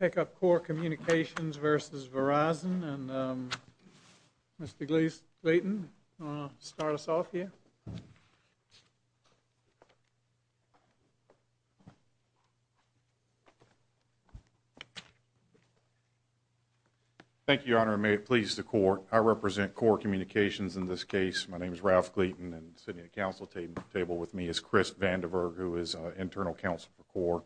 Take up CORE Communications v. Verizon. And Mr. Gleeson, do you want to start us off here? Thank you, Your Honor. May it please the CORE. I represent CORE Communications in this case. My name is Ralph Gleeson, and sitting at the Council table with me is Chris Vandiverg, who is Internal Counsel for CORE.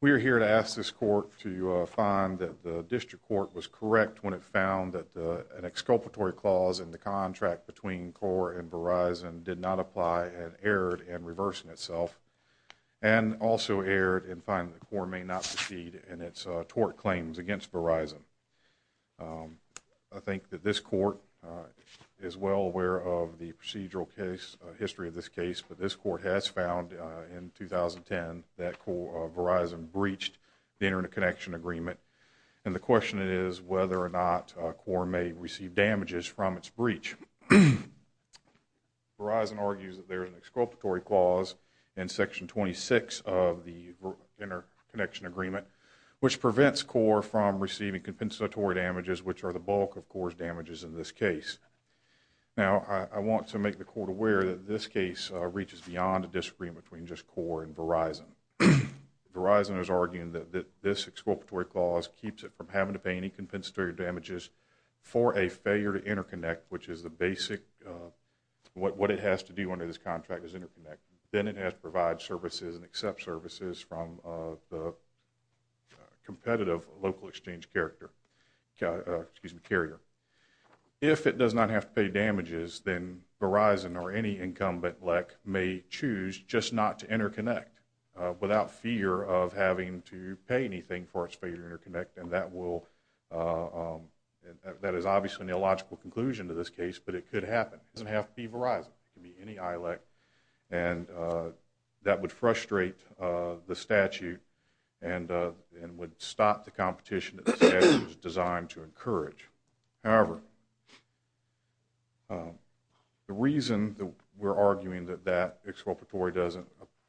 We are here to ask this Court to find that the District Court was correct when it found that an exculpatory clause in the contract between CORE and Verizon did not apply and erred in reversing itself, and also erred in finding that CORE may not succeed in its tort claims against Verizon. I think that this Court is well aware of the procedural history of this case, but this Court has found in 2010 that Verizon breached the Interconnection Agreement, and the question is whether or not CORE may receive damages from its breach. Verizon argues that there is an exculpatory clause in Section 26 of the Interconnection Agreement which prevents CORE from receiving compensatory damages, which are the bulk of CORE's damages in this case. Now, I want to make the Court aware that this case reaches beyond a disagreement between just CORE and Verizon. Verizon is arguing that this exculpatory clause keeps it from having to pay any compensatory damages for a failure to interconnect, which is the basic, what it has to do under this contract is interconnect. Then it has to provide services and accept services from the competitive local exchange carrier. If it does not have to pay damages, then Verizon or any incumbent LEC may choose just not to interconnect without fear of having to pay anything for its failure to interconnect, and that is obviously an illogical conclusion to this case, but it could happen. It doesn't have to be Verizon. It could be any ILEC, and that would frustrate the statute and would stop the competition that the statute is designed to encourage. However, the reason that we're arguing that that exculpatory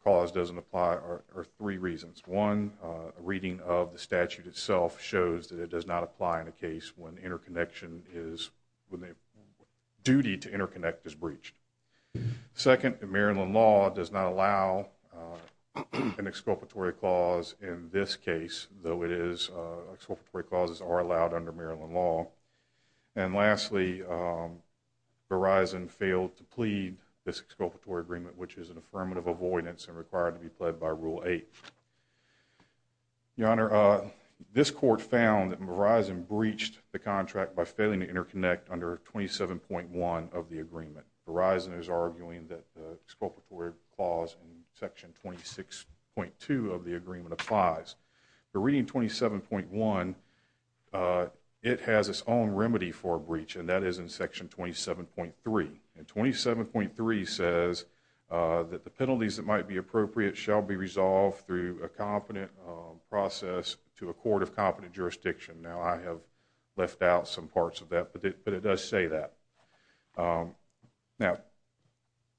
clause doesn't apply are three reasons. One, a reading of the statute itself shows that it does not apply in a case when interconnection is, when the duty to interconnect is breached. Second, Maryland law does not allow an exculpatory clause in this case, though it is, exculpatory clauses are allowed under Maryland law. And lastly, Verizon failed to plead this exculpatory agreement, which is an affirmative avoidance and required to be pled by Rule 8. Your Honor, this court found that Verizon breached the contract by failing to interconnect under 27.1 of the agreement. Verizon is arguing that the exculpatory clause in Section 26.2 of the agreement applies. The reading 27.1, it has its own remedy for a breach, and that is in Section 27.3. And 27.3 says that the penalties that might be appropriate shall be resolved through a competent process to a court of competent jurisdiction. Now, I have left out some parts of that, but it does say that. Now,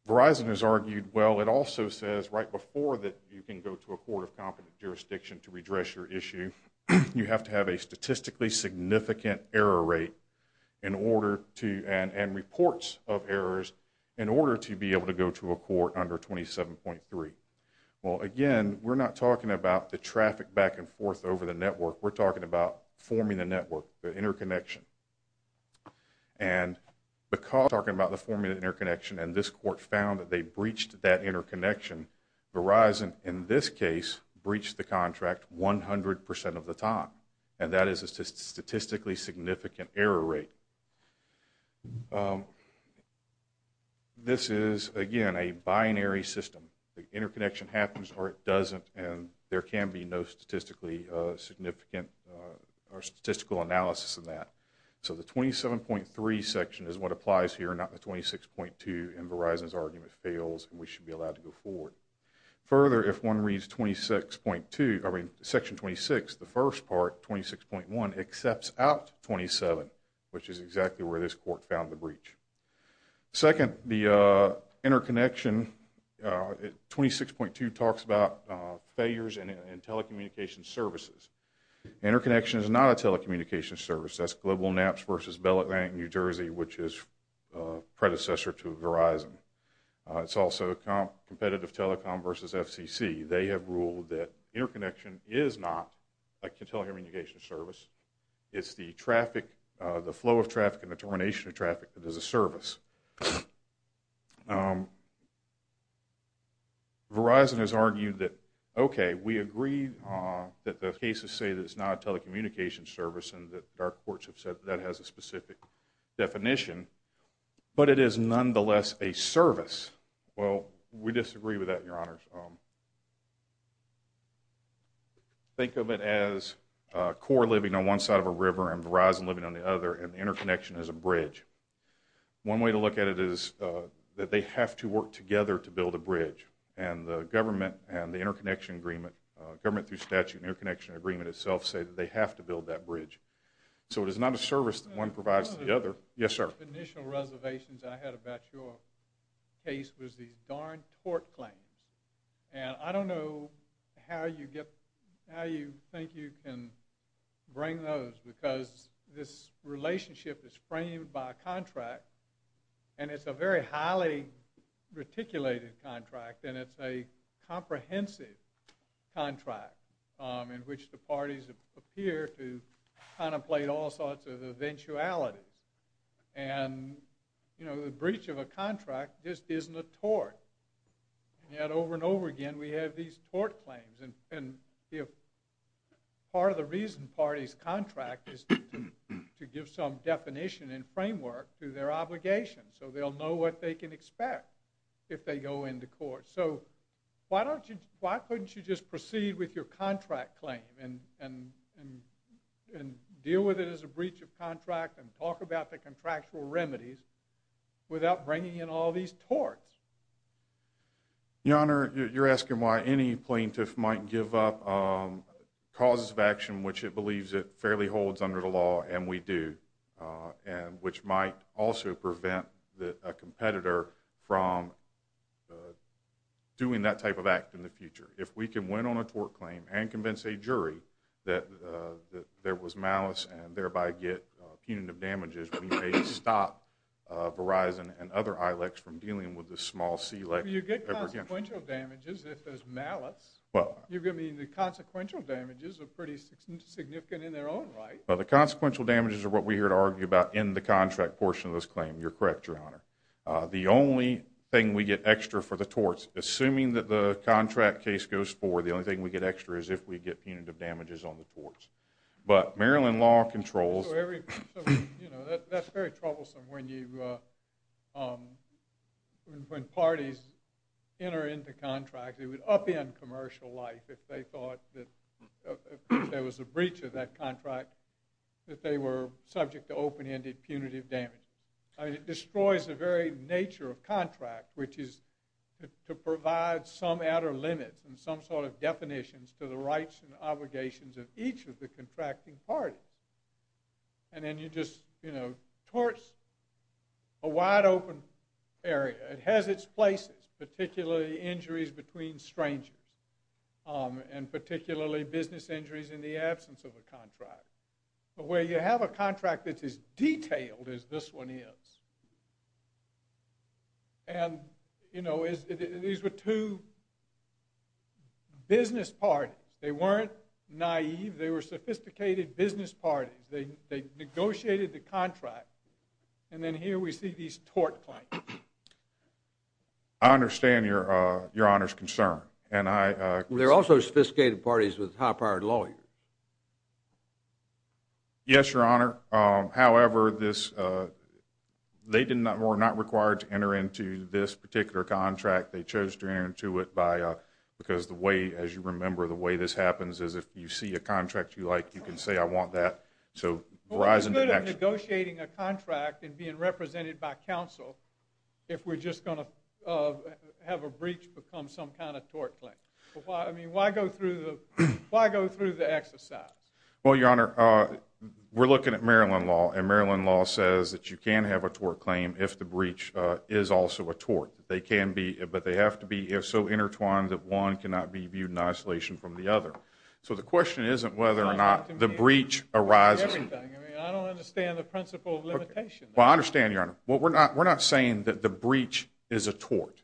Verizon has argued, well, it also says right before that you can go to a court of competent jurisdiction to redress your issue, you have to have a statistically significant error rate and reports of errors in order to be able to go to a court under 27.3. Well, again, we're not talking about the traffic back and forth over the network. We're talking about forming the network, the interconnection. And because we're talking about forming the interconnection, and this court found that they breached that interconnection, Verizon, in this case, breached the contract 100% of the time, and that is a statistically significant error rate. This is, again, a binary system. The interconnection happens or it doesn't, and there can be no statistically significant or statistical analysis of that. So the 27.3 section is what applies here, not the 26.2, and Verizon's argument fails, and we should be allowed to go forward. Further, if one reads Section 26, the first part, 26.1, accepts out 27, which is exactly where this court found the breach. Second, the interconnection, 26.2 talks about failures in telecommunication services. Interconnection is not a telecommunication service. That's GlobalNaps versus Bell Atlantic New Jersey, which is predecessor to Verizon. It's also competitive telecom versus FCC. They have ruled that interconnection is not a telecommunication service. It's the traffic, the flow of traffic and the termination of traffic that is a service. Verizon has argued that, okay, we agree that the cases say that it's not a telecommunication service and that our courts have said that that has a specific definition, but it is nonetheless a service. Well, we disagree with that, Your Honors. Think of it as CORE living on one side of a river and Verizon living on the other, and the interconnection is a bridge. One way to look at it is that they have to work together to build a bridge, and the government and the interconnection agreement, government through statute and interconnection agreement itself, say that they have to build that bridge. So it is not a service that one provides to the other. Yes, sir. One of the initial reservations I had about your case was these darn tort claims. And I don't know how you think you can bring those because this relationship is framed by a contract, and it's a very highly reticulated contract, and it's a comprehensive contract in which the parties appear to contemplate all sorts of eventualities. And, you know, the breach of a contract just isn't a tort. And yet over and over again we have these tort claims, and part of the reason parties contract is to give some definition and framework to their obligations so they'll know what they can expect if they go into court. So why couldn't you just proceed with your contract claim and talk about the contractual remedies without bringing in all these torts? Your Honor, you're asking why any plaintiff might give up causes of action which it believes it fairly holds under the law, and we do, which might also prevent a competitor from doing that type of act in the future. If we can win on a tort claim and convince a jury that there was malice and thereby get punitive damages, we may stop Verizon and other ILECs from dealing with this small CLEC. You get consequential damages if there's malice. Well. You're going to mean the consequential damages are pretty significant in their own right. Well, the consequential damages are what we're here to argue about in the contract portion of this claim. You're correct, Your Honor. The only thing we get extra for the torts, assuming that the contract case goes forward, the only thing we get extra is if we get punitive damages on the torts. But Maryland law controls. That's very troublesome when parties enter into contracts. It would upend commercial life if they thought that there was a breach of that contract, that they were subject to open-ended punitive damage. It destroys the very nature of contract, which is to provide some outer limits and some sort of definitions to the rights and obligations of each of the contracting parties. And then you just, you know, torts a wide-open area. It has its places, particularly injuries between strangers and particularly business injuries in the absence of a contract. But where you have a contract that's as detailed as this one is, and, you know, these were two business parties. They weren't naive. They were sophisticated business parties. They negotiated the contract. And then here we see these tort claims. I understand Your Honor's concern. They're also sophisticated parties with high-powered lawyers. Yes, Your Honor. However, they were not required to enter into this particular contract. They chose to enter into it because the way, as you remember, the way this happens is if you see a contract you like, you can say, I want that. So Verizon did that. What's the good of negotiating a contract and being represented by counsel if we're just going to have a breach become some kind of tort claim? I mean, why go through the exercise? Well, Your Honor, we're looking at Maryland law, and Maryland law says that you can have a tort claim if the breach is also a tort. But they have to be so intertwined that one cannot be viewed in isolation from the other. So the question isn't whether or not the breach arises. I don't understand the principle of limitation. Well, I understand, Your Honor. We're not saying that the breach is a tort.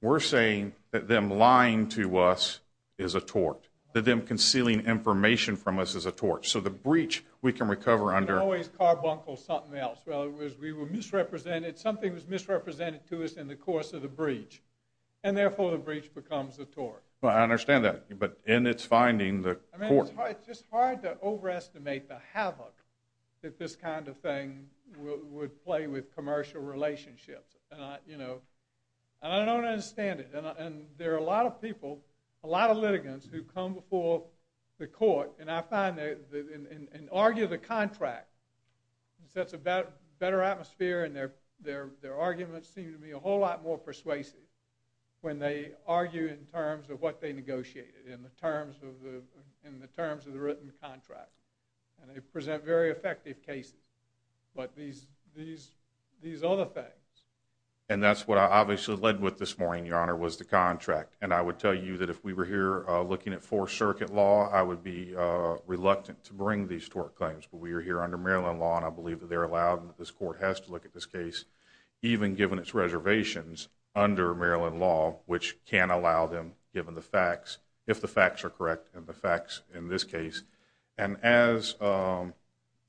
We're saying that them lying to us is a tort, that them concealing information from us is a tort. So the breach we can recover under. It's always carbuncle something else. We were misrepresented. Something was misrepresented to us in the course of the breach, and therefore the breach becomes a tort. I understand that. But in its finding, the tort. It's just hard to overestimate the havoc that this kind of thing would play with commercial relationships. And I don't understand it. And there are a lot of people, a lot of litigants, who come before the court and argue the contract. It sets a better atmosphere, and their arguments seem to be a whole lot more persuasive when they argue in terms of what they negotiated, in the terms of the written contract. And they present very effective cases. But these other things. And that's what I obviously led with this morning, Your Honor, was the contract. And I would tell you that if we were here looking at Fourth Circuit law, I would be reluctant to bring these tort claims. But we are here under Maryland law, and I believe that they're allowed, and this court has to look at this case, even given its reservations under Maryland law, which can allow them, given the facts, if the facts are correct, and the facts in this case. And as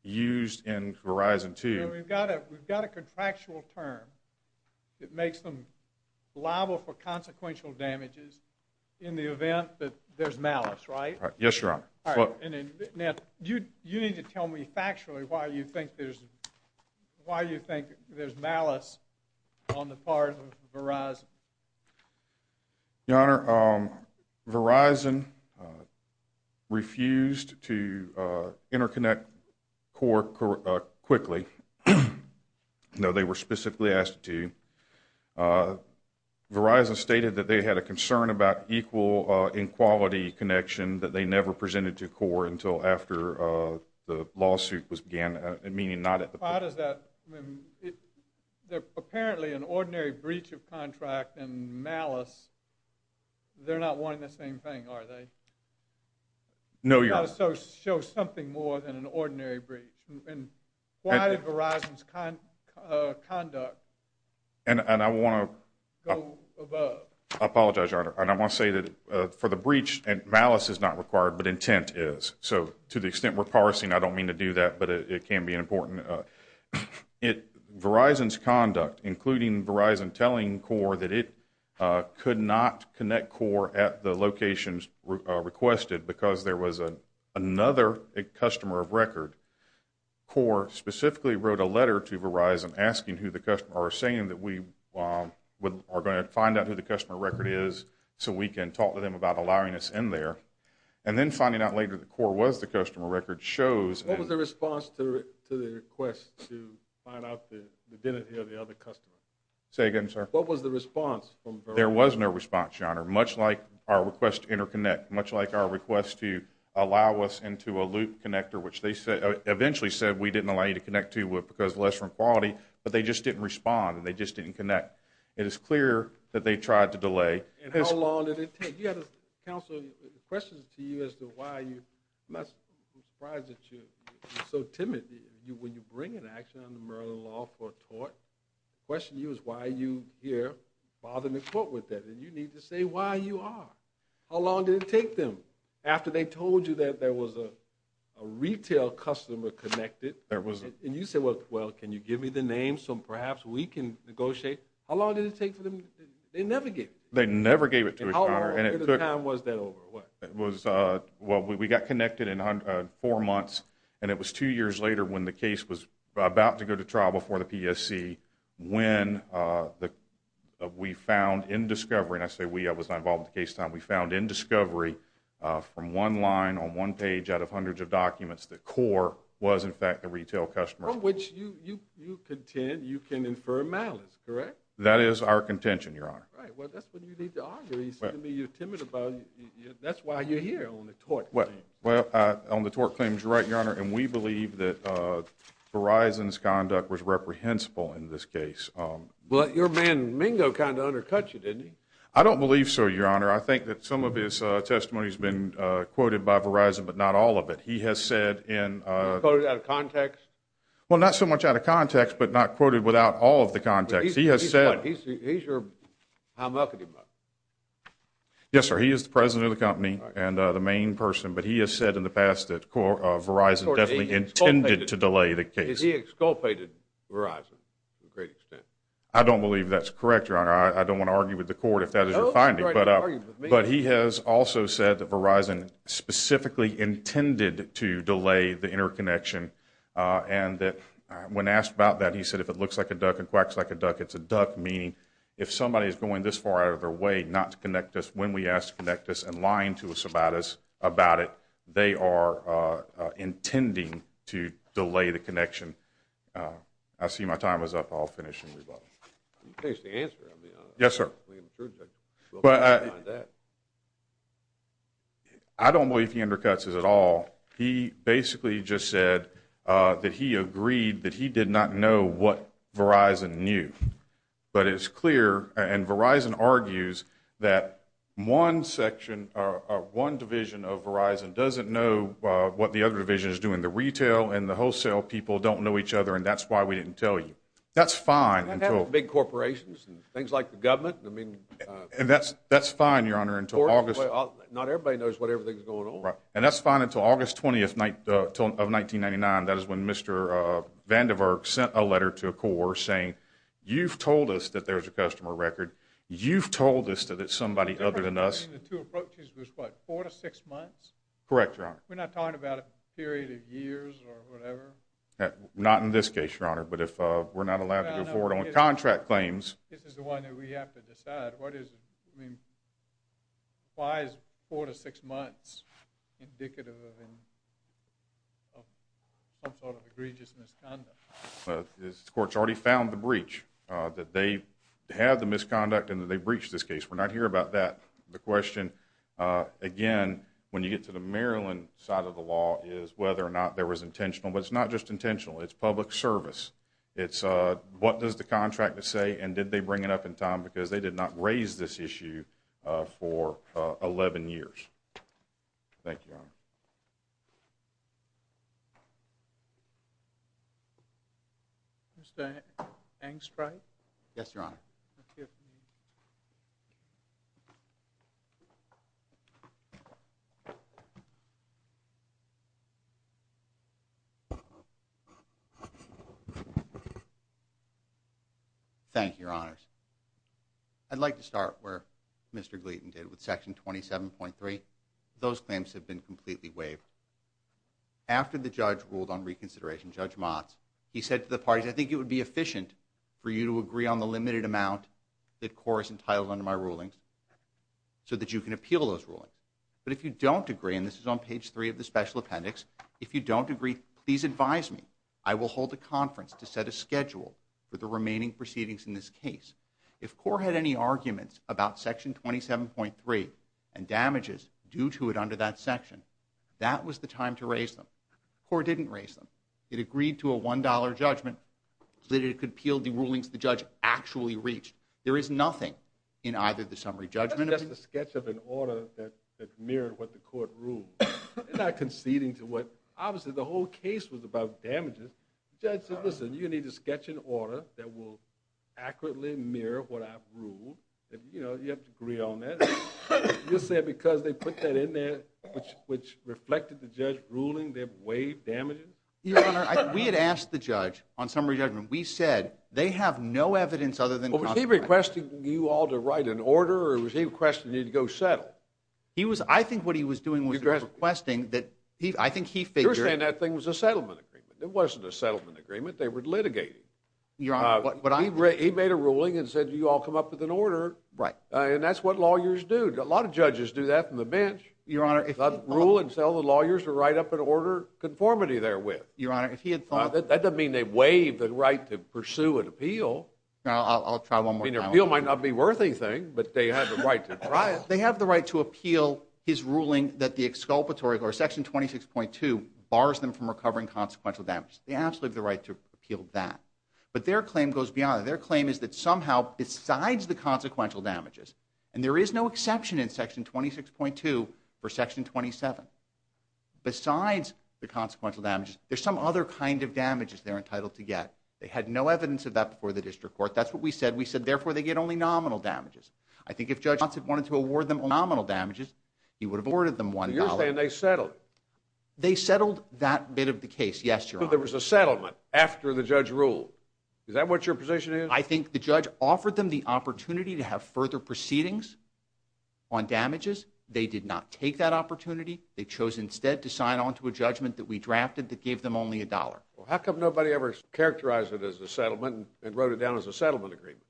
used in Verizon 2. Your Honor, we've got a contractual term that makes them liable for consequential damages in the event that there's malice, right? Yes, Your Honor. Now, you need to tell me factually why you think there's malice on the part of Verizon. Your Honor, Verizon refused to interconnect CORE quickly. No, they were specifically asked to. Verizon stated that they had a concern about equal in quality connection that they never presented to CORE until after the lawsuit was began, meaning not at the point. Why does that? Apparently an ordinary breach of contract and malice, they're not wanting the same thing, are they? No, Your Honor. You've got to show something more than an ordinary breach. Why did Verizon's conduct go above? I apologize, Your Honor. I want to say that for the breach, malice is not required, but intent is. So to the extent we're parsing, I don't mean to do that, but it can be important. Verizon's conduct, including Verizon telling CORE that it could not connect CORE at the locations requested because there was another customer of record. CORE specifically wrote a letter to Verizon asking who the customer or saying that we are going to find out who the customer record is so we can talk to them about allowing us in there. And then finding out later that CORE was the customer record shows. What was the response to the request to find out the identity of the other customer? Say again, sir. What was the response from Verizon? There was no response, Your Honor, much like our request to interconnect, much like our request to allow us into a loop connector, which they eventually said we didn't allow you to connect to because of lesser quality, but they just didn't respond and they just didn't connect. It is clear that they tried to delay. And how long did it take? Counsel, the question is to you as to why you, I'm not surprised that you're so timid. When you bring an action under Maryland law for a tort, the question to you is why are you here bothering the court with that? And you need to say why you are. How long did it take them? After they told you that there was a retail customer connected and you said, well, can you give me the name so perhaps we can negotiate? How long did it take for them? They never gave it to you. How long of a time was that over? Well, we got connected in four months, and it was two years later when the case was about to go to trial before the PSC when we found in discovery, and I say we, I was not involved in the case at the time, we found in discovery from one line on one page out of hundreds of documents that CORE was in fact a retail customer. From which you contend you can infer malice, correct? That is our contention, Your Honor. Right. Well, that's what you need to argue. You said to me you're timid about it. That's why you're here on the tort claim. Well, on the tort claims, you're right, Your Honor, and we believe that Verizon's conduct was reprehensible in this case. But your man Mingo kind of undercut you, didn't he? I don't believe so, Your Honor. I think that some of his testimony has been quoted by Verizon, but not all of it. He has said in – Quoted out of context? Well, not so much out of context, but not quoted without all of the context. He has said – He's your – Yes, sir. He is the president of the company and the main person, but he has said in the past that Verizon definitely intended to delay the case. He exculpated Verizon to a great extent. I don't believe that's correct, Your Honor. I don't want to argue with the court if that is your finding. But he has also said that Verizon specifically intended to delay the interconnection and that when asked about that, he said, if it looks like a duck and quacks like a duck, it's a duck, meaning if somebody is going this far out of their way not to connect us, when we ask to connect us and lying to us about it, they are intending to delay the connection. I see my time is up. I'll finish and rebut. In case the answer, I mean – Yes, sir. We can prove that. We'll find that. I don't believe he undercuts us at all. He basically just said that he agreed that he did not know what Verizon knew. But it's clear, and Verizon argues, that one section or one division of Verizon doesn't know what the other division is doing. The retail and the wholesale people don't know each other, and that's why we didn't tell you. That's fine until – Big corporations and things like the government, I mean – And that's fine, Your Honor, until August – Not everybody knows what everything is going on. And that's fine until August 20th of 1999. That is when Mr. Vandiver sent a letter to a corps saying, you've told us that there's a customer record. You've told us that it's somebody other than us. The two approaches was what, four to six months? Correct, Your Honor. We're not talking about a period of years or whatever? Not in this case, Your Honor. But if we're not allowed to go forward on contract claims – This is the one that we have to decide. Why is four to six months indicative of some sort of egregious misconduct? The court's already found the breach, that they have the misconduct and that they breached this case. We're not here about that. The question, again, when you get to the Maryland side of the law, is whether or not there was intentional. But it's not just intentional. It's public service. It's what does the contractor say, and did they bring it up in time because they did not raise this issue for 11 years? Thank you, Your Honor. Mr. Angstreich? Yes, Your Honor. Thank you. Thank you, Your Honors. I'd like to start where Mr. Gleaton did with Section 27.3. Those claims have been completely waived. After the judge ruled on reconsideration, Judge Motz, he said to the parties, I think it would be efficient for you to agree on the limited amount that CORE is entitled under my rulings so that you can appeal those rulings. But if you don't agree, and this is on page 3 of the special appendix, if you don't agree, please advise me. I will hold a conference to set a schedule for the remaining proceedings in this case. If CORE had any arguments about Section 27.3 and damages due to it under that section, that was the time to raise them. CORE didn't raise them. It agreed to a $1 judgment that it could appeal the rulings the judge actually reached. There is nothing in either of the summary judgments. That's just a sketch of an order that mirrored what the court ruled. They're not conceding to what – obviously the whole case was about damages. The judge said, listen, you need to sketch an order that will accurately mirror what I've ruled. You have to agree on that. You're saying because they put that in there, which reflected the judge ruling they waived damages? Your Honor, we had asked the judge on summary judgment. We said they have no evidence other than – Was he requesting you all to write an order, or was he requesting you to go settle? He was – I think what he was doing was requesting that – I think he figured – You're saying that thing was a settlement agreement. It wasn't a settlement agreement. They were litigating. He made a ruling and said you all come up with an order. Right. And that's what lawyers do. A lot of judges do that from the bench. Your Honor, if he – Rule and sell the lawyers to write up an order, conformity therewith. Your Honor, if he had thought – That doesn't mean they waived the right to pursue an appeal. I'll try one more time. The appeal might not be worth anything, but they have the right to try it. They have the right to appeal his ruling that the exculpatory, or Section 26.2, bars them from recovering consequential damages. They absolutely have the right to appeal that. But their claim goes beyond that. Their claim is that somehow, besides the consequential damages, and there is no exception in Section 26.2 for Section 27, besides the consequential damages, there's some other kind of damages they're entitled to get. They had no evidence of that before the district court. That's what we said. We said, therefore, they get only nominal damages. I think if Judge Johnson wanted to award them nominal damages, he would have awarded them $1. You're saying they settled. They settled that bit of the case, yes, Your Honor. But there was a settlement after the judge ruled. Is that what your position is? I think the judge offered them the opportunity to have further proceedings on damages. They did not take that opportunity. They chose instead to sign on to a judgment that we drafted that gave them only $1. Well, how come nobody ever characterized it as a settlement and wrote it down as a settlement agreement?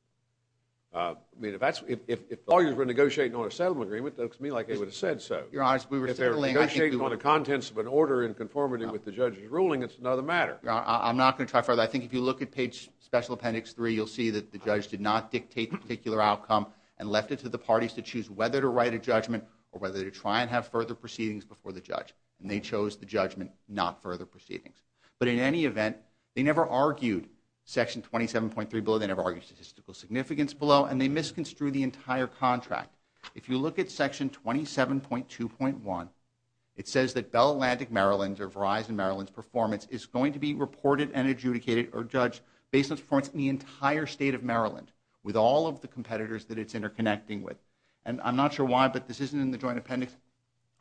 I mean, if the lawyers were negotiating on a settlement agreement, it looks to me like they would have said so. Your Honor, we were settling. If they're negotiating on the contents of an order in conformity with the judge's ruling, it's another matter. I'm not going to try further. But I think if you look at page special appendix 3, you'll see that the judge did not dictate the particular outcome and left it to the parties to choose whether to write a judgment or whether to try and have further proceedings before the judge. And they chose the judgment, not further proceedings. But in any event, they never argued section 27.3 below. They never argued statistical significance below, and they misconstrued the entire contract. If you look at section 27.2.1, it says that Bell Atlantic Maryland or Verizon Maryland's performance is going to be reported and adjudicated or judged based on performance in the entire state of Maryland with all of the competitors that it's interconnecting with. And I'm not sure why, but this isn't in the joint appendix.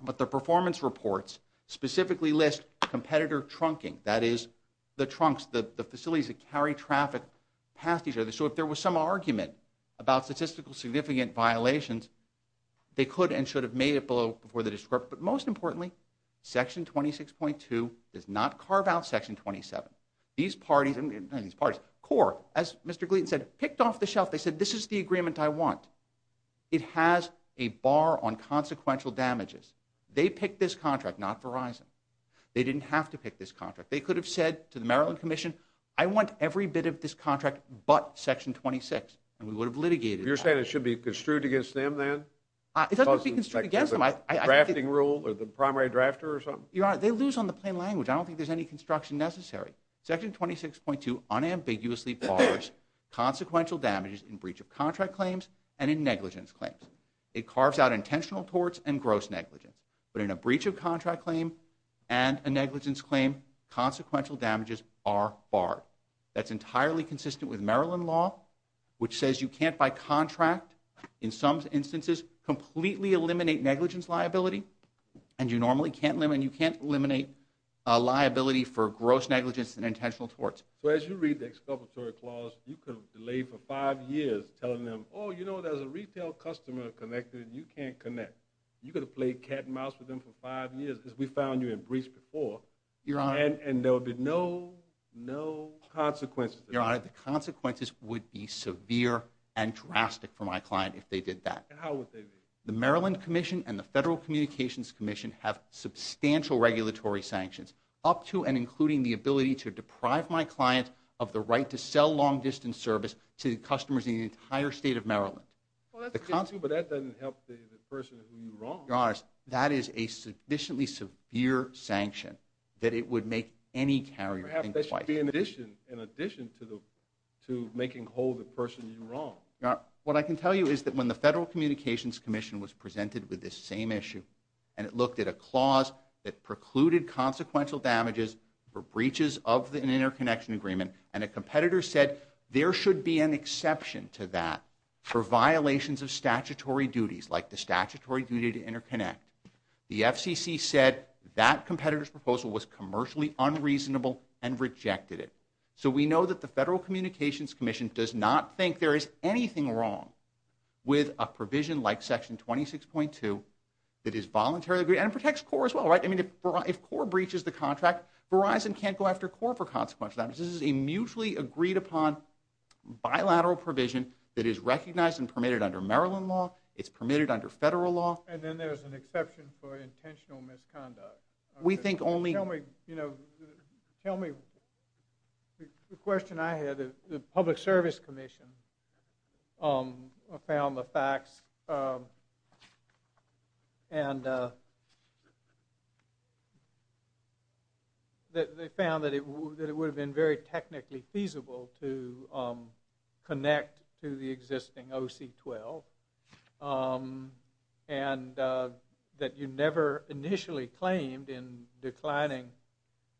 But the performance reports specifically list competitor trunking. That is, the trunks, the facilities that carry traffic past each other. So if there was some argument about statistical significant violations, they could and should have made it below before the district court. But most importantly, section 26.2 does not carve out section 27. These parties... not these parties... CORE, as Mr. Gleeson said, picked off the shelf. They said, this is the agreement I want. It has a bar on consequential damages. They picked this contract, not Verizon. They didn't have to pick this contract. They could have said to the Maryland Commission, I want every bit of this contract but section 26, and we would have litigated that. You're saying it should be construed against them, then? It doesn't have to be construed against them. The drafting rule or the primary drafter or something? Your Honor, they lose on the plain language. I don't think there's any construction necessary. Section 26.2 unambiguously bars consequential damages in breach of contract claims and in negligence claims. It carves out intentional torts and gross negligence. But in a breach of contract claim and a negligence claim, consequential damages are barred. That's entirely consistent with Maryland law, which says you can't by contract, in some instances, completely eliminate negligence liability, and you normally can't eliminate liability for gross negligence and intentional torts. So as you read the exculpatory clause, you could have delayed for five years telling them, oh, you know, there's a retail customer connected and you can't connect. You could have played cat and mouse with them for five years, as we found you in breach before. Your Honor. And there would be no consequences. Your Honor, the consequences would be severe and drastic for my client if they did that. How would they be? The Maryland Commission and the Federal Communications Commission have substantial regulatory sanctions, up to and including the ability to deprive my client of the right to sell long-distance service to customers in the entire state of Maryland. Well, that's good, too, but that doesn't help the person who you wronged. Your Honor, that is a sufficiently severe sanction that it would make any carrier think twice. That would be in addition to making whole the person you wronged. Your Honor, what I can tell you is that when the Federal Communications Commission was presented with this same issue and it looked at a clause that precluded consequential damages for breaches of an interconnection agreement and a competitor said there should be an exception to that for violations of statutory duties, like the statutory duty to interconnect, the FCC said that competitor's proposal was commercially unreasonable and rejected it. So we know that the Federal Communications Commission does not think there is anything wrong with a provision like Section 26.2 that is voluntarily agreed to, and protects CORE as well, right? I mean, if CORE breaches the contract, Verizon can't go after CORE for consequential damages. This is a mutually agreed-upon bilateral provision that is recognized and permitted under Maryland law. It's permitted under federal law. And then there's an exception for intentional misconduct. We think only... Tell me, you know, tell me... The question I had, the Public Service Commission found the facts and... They found that it would have been very technically feasible to connect to the existing OC-12 and that you never initially claimed in declining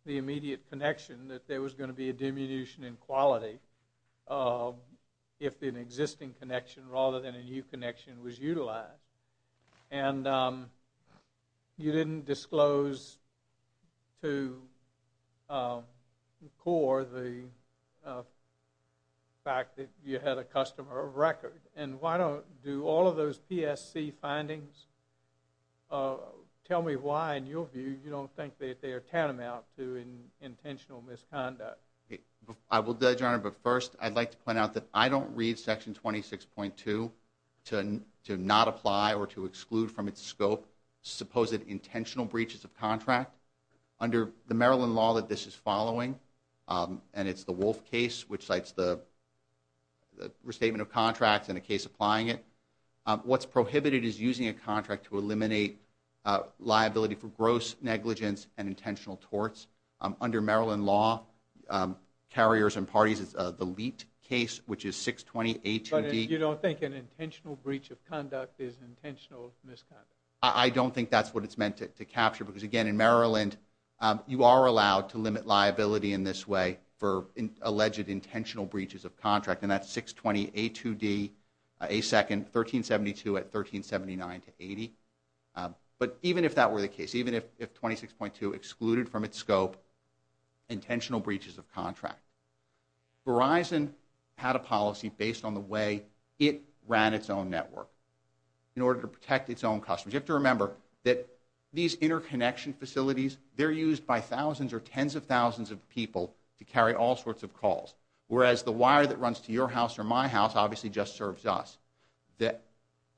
the immediate connection that there was going to be a diminution in quality if an existing connection rather than a new connection was utilized. And you didn't disclose to CORE the fact that you had a customer record. And why don't... Do all of those PSC findings... Tell me why, in your view, you don't think that they are tantamount to intentional misconduct. I will, Your Honor, but first I'd like to point out that I don't read Section 26.2 to not apply or to exclude from its scope supposed intentional breaches of contract. Under the Maryland law that this is following, and it's the Wolf case, which cites the restatement of contracts and a case applying it, what's prohibited is using a contract to eliminate liability for gross negligence and intentional torts. Under Maryland law, carriers and parties, it's the Leet case, which is 620A2D. But you don't think an intentional breach of conduct is intentional misconduct? I don't think that's what it's meant to capture because, again, in Maryland, you are allowed to limit liability in this way for alleged intentional breaches of contract, and that's 620A2D, A2nd, 1372 at 1379-80. But even if that were the case, even if 26.2 excluded from its scope intentional breaches of contract, Verizon had a policy based on the way it ran its own network in order to protect its own customers. You have to remember that these interconnection facilities, they're used by thousands or tens of thousands of people to carry all sorts of calls, whereas the wire that runs to your house or my house obviously just serves us.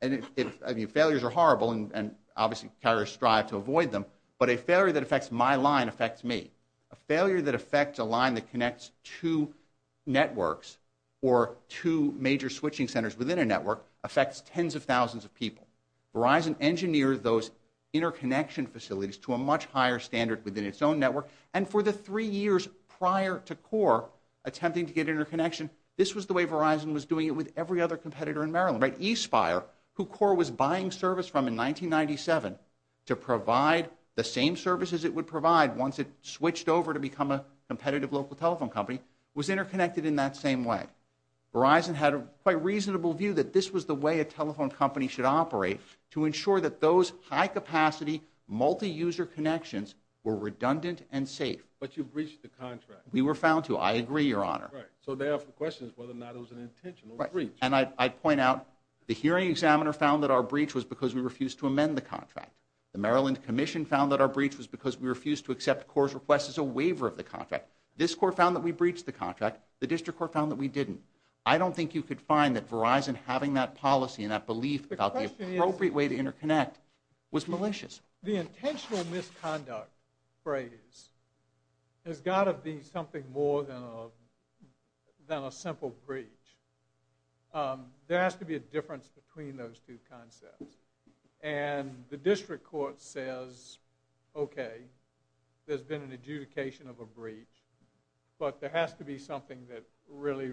Failures are horrible, and obviously carriers strive to avoid them, but a failure that affects my line affects me. A failure that affects a line that connects two networks or two major switching centers within a network affects tens of thousands of people. Verizon engineered those interconnection facilities to a much higher standard within its own network, and for the three years prior to Core attempting to get interconnection, this was the way Verizon was doing it with every other competitor in Maryland, right? eSpire, who Core was buying service from in 1997 to provide the same services it would provide once it switched over to become a competitive local telephone company, was interconnected in that same way. Verizon had a quite reasonable view that this was the way a telephone company should operate to ensure that those high-capacity, multi-user connections were redundant and safe. But you breached the contract. We were found to. I agree, Your Honor. Right, so they have questions whether or not it was an intentional breach. And I'd point out the hearing examiner found that our breach was because we refused to amend the contract. The Maryland Commission found that our breach was because we refused to accept Core's request as a waiver of the contract. This Court found that we breached the contract. The District Court found that we didn't. I don't think you could find that Verizon having that policy and that belief about the appropriate way to interconnect was malicious. The intentional misconduct phrase has got to be something more than a simple breach. There has to be a difference between those two concepts. And the District Court says, okay, there's been an adjudication of a breach, but there has to be something that really,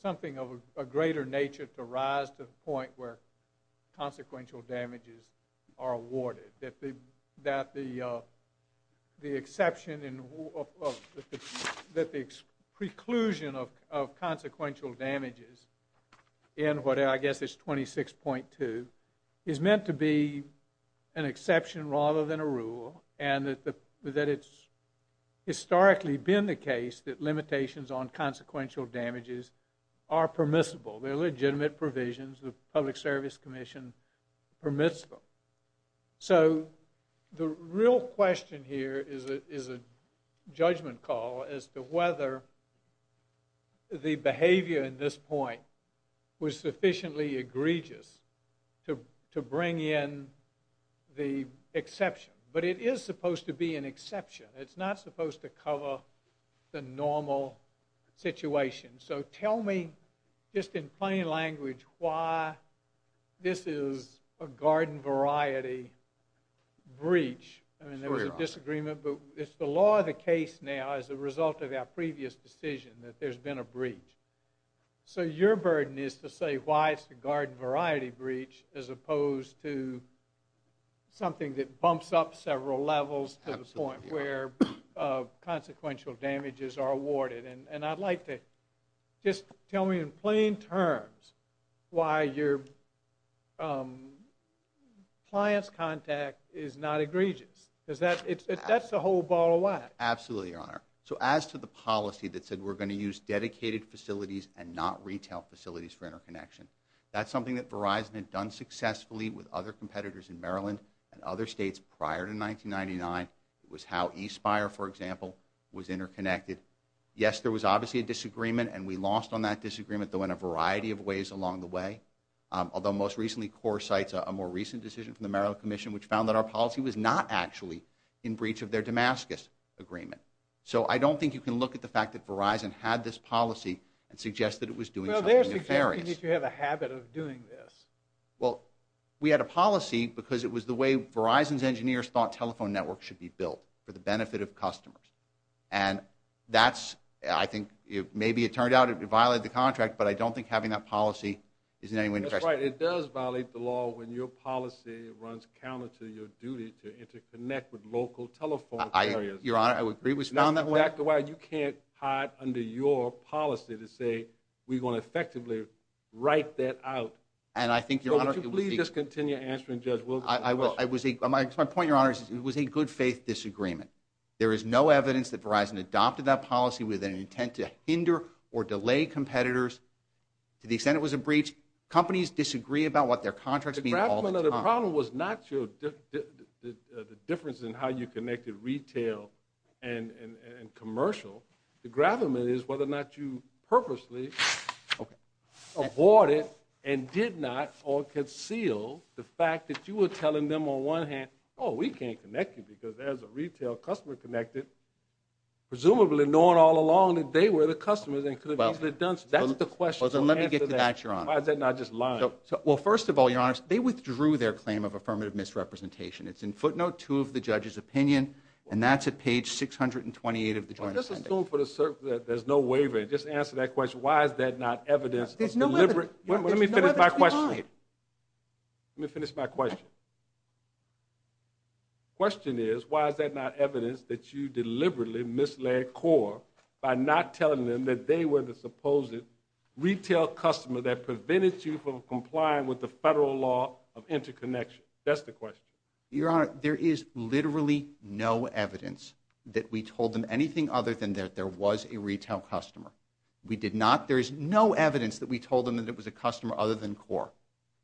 something of a greater nature to rise to the point where consequential damages are awarded, that the exception, that the preclusion of consequential damages in what I guess is 26.2 is meant to be an exception rather than a rule and that it's historically been the case that limitations on consequential damages are permissible. They're legitimate provisions. The Public Service Commission permits them. So the real question here is a judgment call as to whether the behavior in this point was sufficiently egregious to bring in the exception. But it is supposed to be an exception. It's not supposed to cover the normal situation. So tell me just in plain language why this is a garden variety breach. There was a disagreement, but it's the law of the case now as a result of our previous decision that there's been a breach. So your burden is to say why it's a garden variety breach as opposed to something that bumps up several levels to the point where consequential damages are awarded. And I'd like to just tell me in plain terms why your client's contact is not egregious. That's the whole ball of wax. Absolutely, Your Honor. So as to the policy that said we're going to use dedicated facilities and not retail facilities for interconnection, that's something that Verizon had done successfully with other competitors in Maryland and other states prior to 1999. It was how eSpire, for example, was interconnected. Yes, there was obviously a disagreement, and we lost on that disagreement though in a variety of ways along the way, although most recently CORE cites a more recent decision from the Maryland Commission which found that our policy was not actually in breach of their Damascus agreement. So I don't think you can look at the fact that Verizon had this policy and suggest that it was doing something nefarious. Well, they're suggesting that you have a habit of doing this. Well, we had a policy because it was the way Verizon's engineers thought telephone networks should be built for the benefit of customers. And that's, I think, maybe it turned out it violated the contract, but I don't think having that policy is in any way nefarious. That's right. It does violate the law when your policy runs counter to your duty to interconnect with local telephone carriers. Your Honor, I would agree with you on that one. That's exactly why you can't hide under your policy to say we're going to effectively write that out. And I think, Your Honor, it was a... So would you please just continue answering Judge Wilkerson's question? I will. It was a... My point, Your Honor, it was a good-faith disagreement. There is no evidence that Verizon adopted that policy with an intent to hinder or delay competitors. To the extent it was a breach, companies disagree about what their contracts mean all the time. The problem was not the difference in how you connected retail and commercial. The gravamen is whether or not you purposely avoided and did not or concealed the fact that you were telling them on one hand, oh, we can't connect you because there's a retail customer connected, presumably knowing all along that they were the customers and could have easily done so. That's the question. Let me get to that, Your Honor. Why is that not just lying? Well, first of all, Your Honor, they withdrew their claim of affirmative misrepresentation. It's in footnote 2 of the judge's opinion, and that's at page 628 of the joint statement. Let's assume for the... There's no waiver. Just answer that question. Why is that not evidence of deliberate... Let me finish my question. The question is, why is that not evidence that you deliberately misled CORE by not telling them that they were the supposed retail customer that prevented you from complying with the federal law of interconnection? That's the question. Your Honor, there is literally no evidence that we told them anything other than that there was a retail customer. We did not. There is no evidence that we told them that it was a customer other than CORE.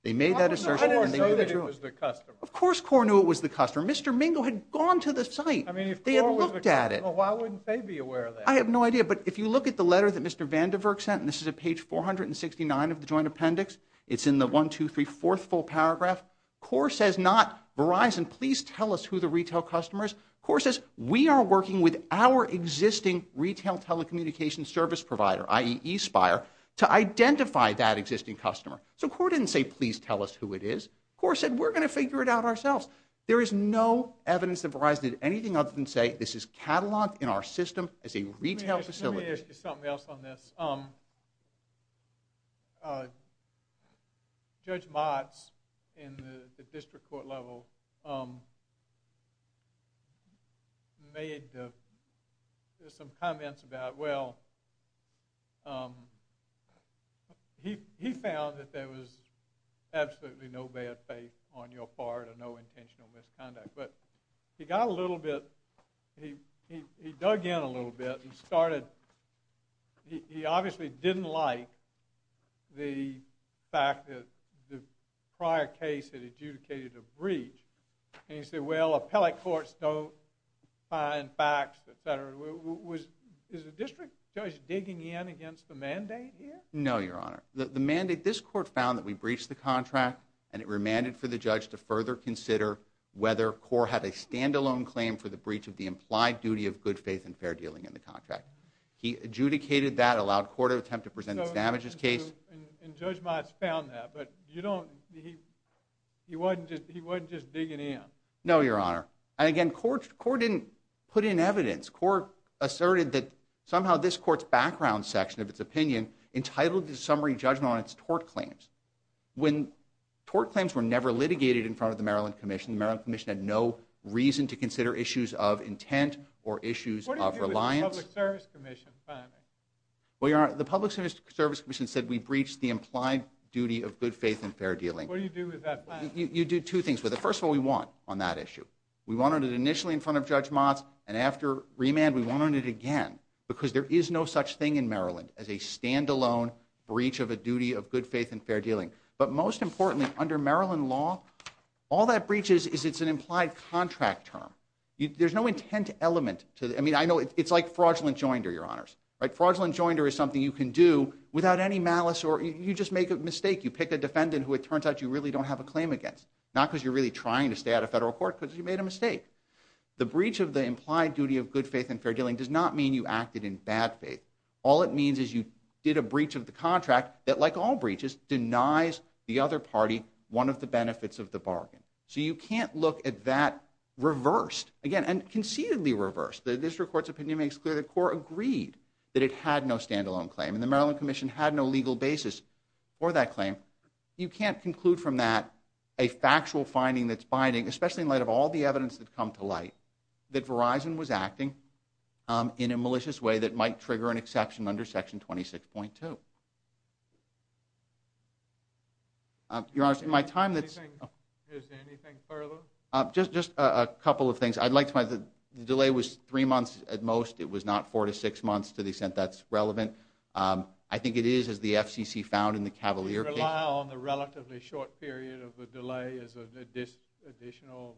They made that assertion, and they withdrew it. I didn't know that it was the customer. Of course CORE knew it was the customer. Mr. Mingo had gone to the site. I mean, if CORE was the customer, why wouldn't they be aware of that? I have no idea. But if you look at the letter that Mr. Vandenberg sent, and this is at page 469 of the joint appendix, it's in the 1, 2, 3, 4th full paragraph, CORE says not Verizon. Please tell us who the retail customer is. CORE says we are working with our existing retail telecommunications service provider, i.e. eSpire, to identify that existing customer. So CORE didn't say please tell us who it is. CORE said we're going to figure it out ourselves. There is no evidence that Verizon did anything other than say this is cataloged in our system as a retail facility. Let me ask you something else on this. Judge Motz in the district court level made some comments about, well, he found that there was absolutely no bad faith on your part or no intentional misconduct. But he got a little bit, he dug in a little bit and started, he obviously didn't like the fact that the prior case had adjudicated a breach. And he said, well, appellate courts don't find facts, et cetera. Is the district judge digging in against the mandate here? No, Your Honor. The mandate, this court found that we breached the contract and it remanded for the judge to further consider whether CORE had a stand-alone claim for the breach of the implied duty of good faith and fair dealing in the contract. He adjudicated that, allowed CORE to attempt to present its damages case. And Judge Motz found that, but you don't, he wasn't just digging in. No, Your Honor. And again, CORE didn't put in evidence. CORE asserted that somehow this court's background section of its opinion entitled the summary judgment on its tort claims. When tort claims were never litigated in front of the Maryland Commission, the Maryland Commission had no reason to consider issues of intent or issues of reliance. What do you do with the Public Service Commission finding? Well, Your Honor, the Public Service Commission said we breached the implied duty of good faith and fair dealing. What do you do with that finding? You do two things with it. First of all, we won on that issue. We won on it initially in front of Judge Motz and after remand, we won on it again because there is no such thing in Maryland as a standalone breach of a duty of good faith and fair dealing. But most importantly, under Maryland law, all that breaches is it's an implied contract term. There's no intent element to it. I mean, I know it's like fraudulent joinder, Your Honors. Fraudulent joinder is something you can do without any malice or you just make a mistake. You pick a defendant who it turns out you really don't have a claim against. Not because you're really trying to stay out of federal court because you made a mistake. The breach of the implied duty of good faith and fair dealing does not mean you acted in bad faith. All it means is you did a breach of the contract that, like all breaches, denies the other party one of the benefits of the bargain. So you can't look at that reversed, again, and conceitedly reversed. The district court's opinion makes clear the court agreed that it had no standalone claim and the Maryland Commission had no legal basis for that claim. You can't conclude from that a factual finding that's binding, especially in light of all the evidence that come to light, that Verizon was acting in a malicious way that might trigger an exception under Section 26.2. Your Honors, in my time that's... Is there anything further? Just a couple of things. I'd like to... The delay was three months at most. It was not four to six months to the extent that's relevant. I think it is, as the FCC found in the Cavalier case... We rely on the relatively short period of the delay as an additional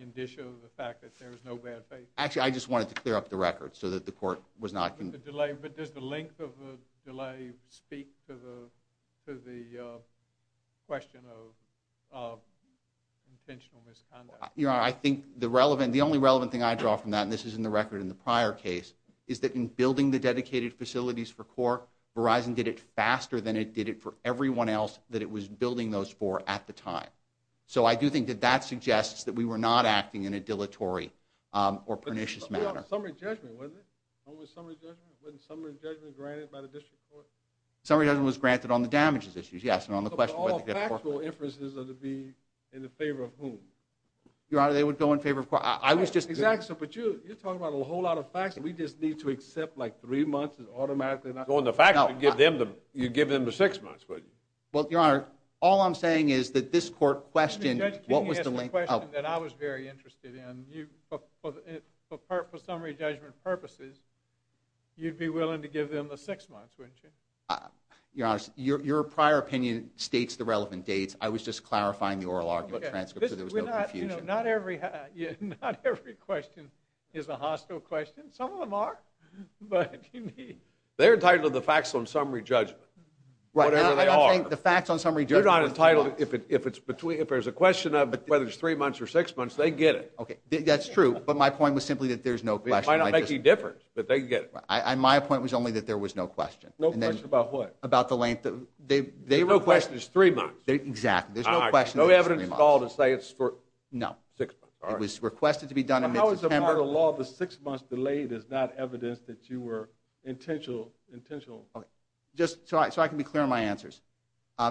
indicia of the fact that there is no bad faith. Actually, I just wanted to clear up the record so that the court was not... The delay, but does the length of the delay speak to the question of intentional misconduct? Your Honor, I think the relevant... The only relevant thing I draw from that, and this is in the record in the prior case, is that in building the dedicated facilities for Cork, Verizon did it faster than it did it for everyone else that it was building those for at the time. So I do think that that suggests that we were not acting in a dilatory or pernicious manner. Summary judgment, wasn't it? What was summary judgment? Wasn't summary judgment granted by the district court? Summary judgment was granted on the damages issues, yes, and on the question whether... But all factual inferences are to be in the favor of whom? Your Honor, they would go in favor of... I was just... Exactly, but you're talking about a whole lot of facts that we just need to accept, like, three months is automatically not... Go in the facts and give them the... You'd give them the six months, wouldn't you? Well, Your Honor, all I'm saying is that this court questioned... Can you ask the question that I was very interested in? For summary judgment purposes, you'd be willing to give them the six months, wouldn't you? Your Honor, your prior opinion states the relevant dates. I was just clarifying the oral argument transcript so there was no confusion. Not every question is a hostile question. Some of them are, but... They're entitled to the facts on summary judgment, whatever they are. I'm not saying the facts on summary judgment... They're not entitled... If there's a question of whether it's three months or six months, they get it. Okay, that's true, but my point was simply that there's no question. It might not make any difference, but they get it. My point was only that there was no question. No question about what? About the length of... There's no question it's three months. Exactly, there's no question it's three months. All right, no evidence at all to say it's for six months. No, it was requested to be done in mid-September. But how is it part of the law the six months delayed is not evidence that you were intentional... Okay, just so I can be clear on my answers.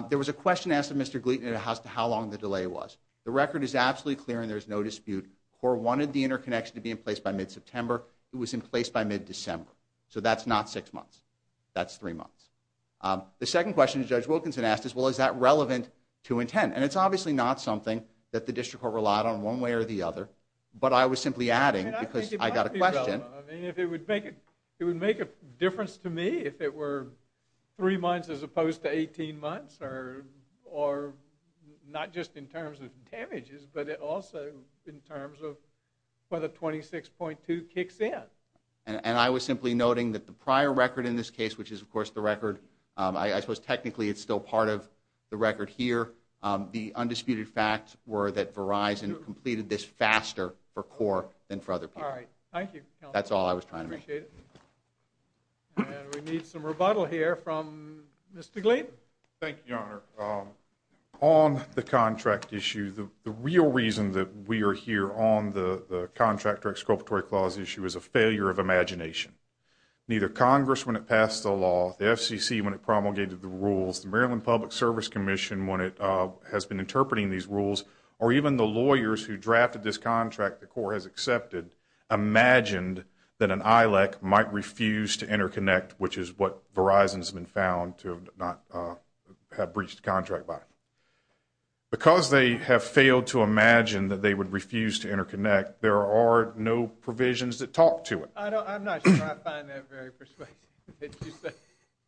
There was a question asked of Mr. Gleaton as to how long the delay was. The record is absolutely clear, and there's no dispute. CORE wanted the interconnection to be in place by mid-September. It was in place by mid-December. So that's not six months. That's three months. The second question Judge Wilkinson asked is, well, is that relevant to intent? And it's obviously not something that the district court relied on one way or the other, but I was simply adding because I got a question. I mean, if it would make a difference to me if it were three months as opposed to 18 months or not just in terms of damages, but also in terms of whether 26.2 kicks in. And I was simply noting that the prior record in this case, which is, of course, the record, I suppose technically it's still part of the record here. The undisputed facts were that Verizon completed this faster for CORE than for other people. All right, thank you. That's all I was trying to make. Appreciate it. And we need some rebuttal here from Mr. Glynn. Thank you, Your Honor. On the contract issue, the real reason that we are here on the contract or exculpatory clause issue is a failure of imagination. Neither Congress, when it passed the law, the FCC, when it promulgated the rules, the Maryland Public Service Commission, when it has been interpreting these rules, or even the lawyers who drafted this contract that CORE has accepted, imagined that an ILEC might refuse to interconnect, which is what Verizon has been found to have not have breached the contract by. Because they have failed to imagine that they would refuse to interconnect, there are no provisions that talk to it. I'm not sure I find that very persuasive that you say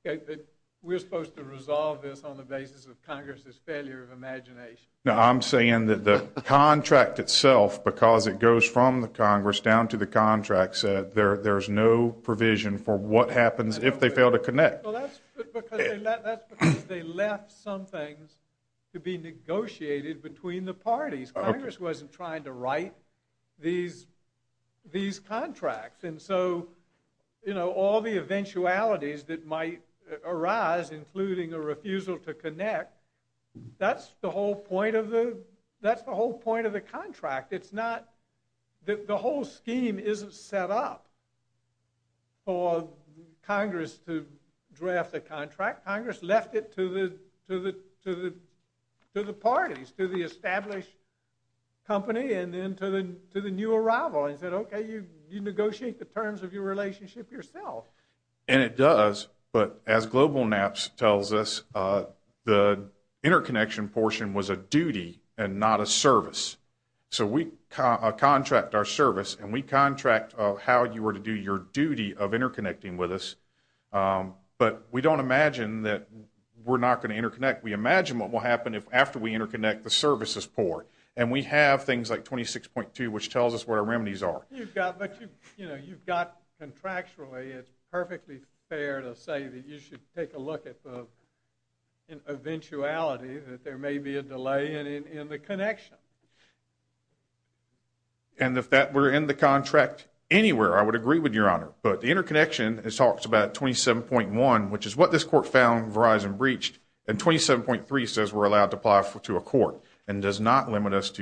that we're supposed to resolve this on the basis of Congress's failure of imagination. No, I'm saying that the contract itself, because it goes from the Congress down to the contracts, there's no provision for what happens if they fail to connect. Well, that's because they left some things to be negotiated between the parties. Congress wasn't trying to write these contracts. And so, you know, all the eventualities that might arise, including a refusal to connect, that's the whole point of the contract. The whole scheme isn't set up for Congress to draft the contract. Congress left it to the parties, to the established company, and then to the new arrival. And said, okay, you negotiate the terms of your relationship yourself. And it does, but as GlobalNaps tells us, the interconnection portion was a duty and not a service. So we contract our service, and we contract how you were to do your duty of interconnecting with us. But we don't imagine that we're not going to interconnect. We imagine what will happen after we interconnect the services port. And we have things like 26.2, which tells us what our remedies are. You've got contractually, it's perfectly fair to say that you should take a look at the eventuality that there may be a delay in the connection. And if that were in the contract anywhere, I would agree with Your Honor. But the interconnection, it talks about 27.1, which is what this court found Verizon breached. And 27.3 says we're allowed to apply to a court and does not limit us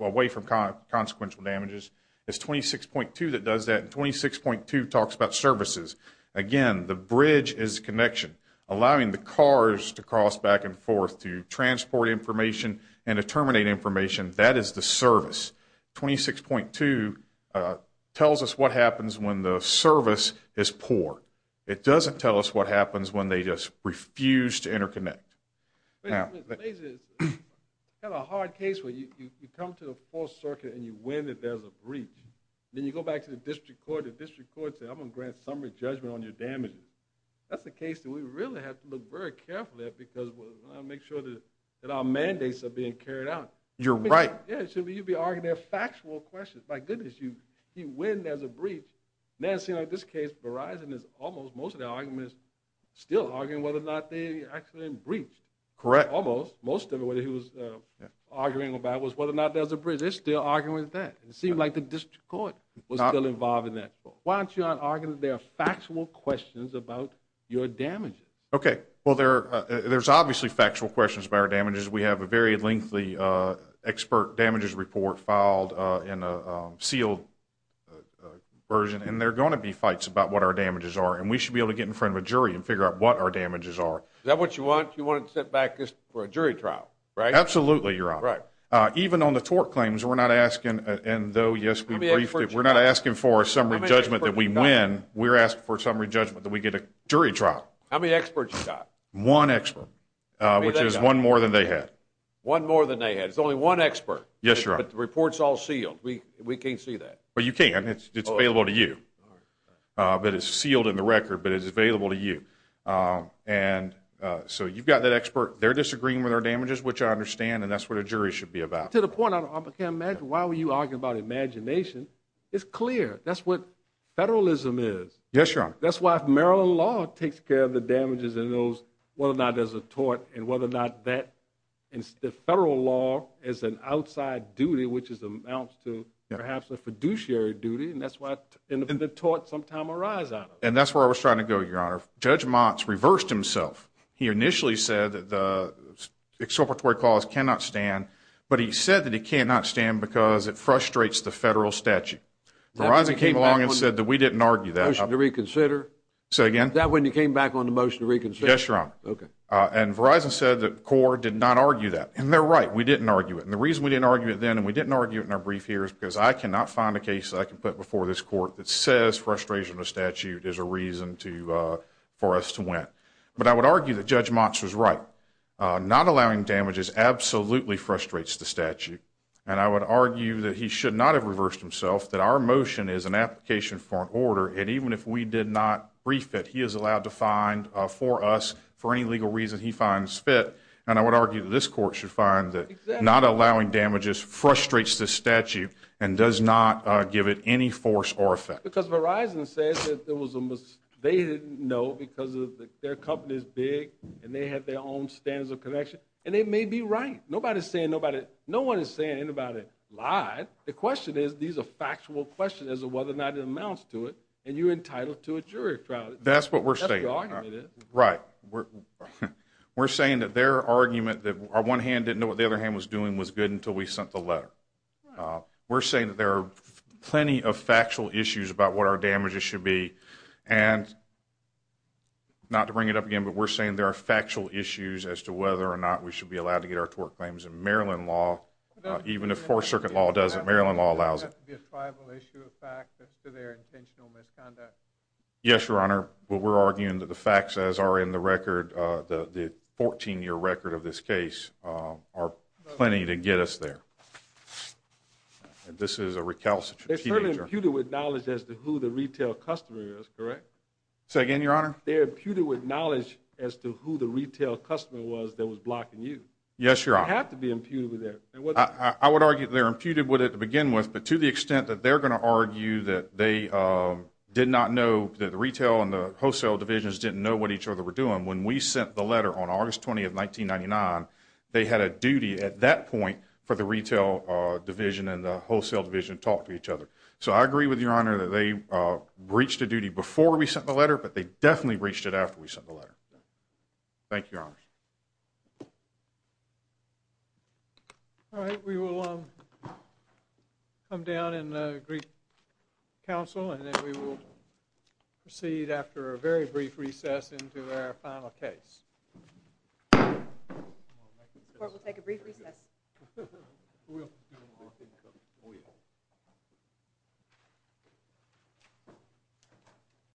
away from consequential damages. It's 26.2 that does that, and 26.2 talks about services. Again, the bridge is connection, allowing the cars to cross back and forth to transport information and to terminate information. That is the service. 26.2 tells us what happens when the service is poor. It doesn't tell us what happens when they just refuse to interconnect. Mr. Blaser, you have a hard case where you come to the Fourth Circuit and you win that there's a breach. Then you go back to the district court, and the district court says, I'm going to grant summary judgment on your damages. That's a case that we really have to look very carefully at because we want to make sure that our mandates are being carried out. You're right. Yeah, so you'd be arguing their factual questions. My goodness, you win there's a breach. Now, it seems like this case, Verizon is almost, most of their argument is still arguing whether or not they actually breached. Correct. Almost. Most of it, whether he was arguing about it, was whether or not there's a breach. They're still arguing with that. It seemed like the district court was still involved in that. Why don't you not argue their factual questions about your damages? Okay, well, there's obviously factual questions about our damages. We have a very lengthy expert damages report filed in a sealed version, and there are going to be fights about what our damages are, and we should be able to get in front of a jury and figure out what our damages are. Is that what you want? You want to set back this for a jury trial, right? Absolutely, Your Honor. Right. Even on the tort claims, we're not asking, and though, yes, we briefed it, we're not asking for a summary judgment that we win. We're asking for a summary judgment that we get a jury trial. How many experts you got? One expert, which is one more than they had. One more than they had. It's only one expert. Yes, Your Honor. But the report's all sealed. We can't see that. Well, you can. It's available to you. But it's sealed in the record, but it's available to you. And so you've got that expert. They're disagreeing with our damages, which I understand, and that's what a jury should be about. To the point, I can't imagine. Why were you arguing about imagination is clear. That's what federalism is. Yes, Your Honor. That's why if Maryland law takes care of the damages and knows whether or not there's a tort and whether or not that, and the federal law is an outside duty, which amounts to perhaps a fiduciary duty, and that's why the torts sometime arise out of it. And that's where I was trying to go, Your Honor. Judge Motz reversed himself. He initially said that the expropriatory clause cannot stand, but he said that it cannot stand because it frustrates the federal statute. Verizon came along and said that we didn't argue that. Motion to reconsider. Say again? That when you came back on the motion to reconsider. Yes, Your Honor. Okay. And Verizon said that CORE did not argue that. And they're right. We didn't argue it. And the reason we didn't argue it then and we didn't argue it in our brief here is because I cannot find a case that I can put before this court that says frustration of statute is a reason for us to win. But I would argue that Judge Motz was right. Not allowing damages absolutely frustrates the statute, and I would argue that he should not have reversed himself, that our motion is an application for an order, and even if we did not brief it, he is allowed to find for us for any legal reason he finds fit. And I would argue that this court should find that not allowing damages frustrates the statute and does not give it any force or effect. Because Verizon says that there was a mistake. No, because their company is big and they have their own standards of connection, and they may be right. No one is saying anybody lied. The question is these are factual questions as to whether or not it amounts to it, and you're entitled to a jury trial. That's what we're saying. That's the argument. Right. We're saying that their argument, that our one hand didn't know what the other hand was doing, was good until we sent the letter. We're saying that there are plenty of factual issues about what our damages should be, and not to bring it up again, but we're saying there are factual issues as to whether or not we should be allowed to get our tort claims in Maryland law, even if Fourth Circuit law does it, Maryland law allows it. Does that have to be a tribal issue of fact as to their intentional misconduct? Yes, Your Honor. But we're arguing that the facts, as are in the record, the 14-year record of this case, are plenty to get us there. And this is a recalcitrant teenager. They're certainly imputed with knowledge as to who the retail customer is, correct? Say again, Your Honor? They're imputed with knowledge as to who the retail customer was that was blocking you. Yes, Your Honor. They have to be imputed with that. I would argue they're imputed with it to begin with, but to the extent that they're going to argue that they did not know, that the retail and the wholesale divisions didn't know what each other were doing, when we sent the letter on August 20, 1999, they had a duty at that point for the retail division and the wholesale division So I agree with Your Honor that they breached a duty before we sent the letter, but they definitely breached it after we sent the letter. Thank you, Your Honor. All right, we will come down and greet counsel, and then we will proceed after a very brief recess into our final case. The court will take a brief recess.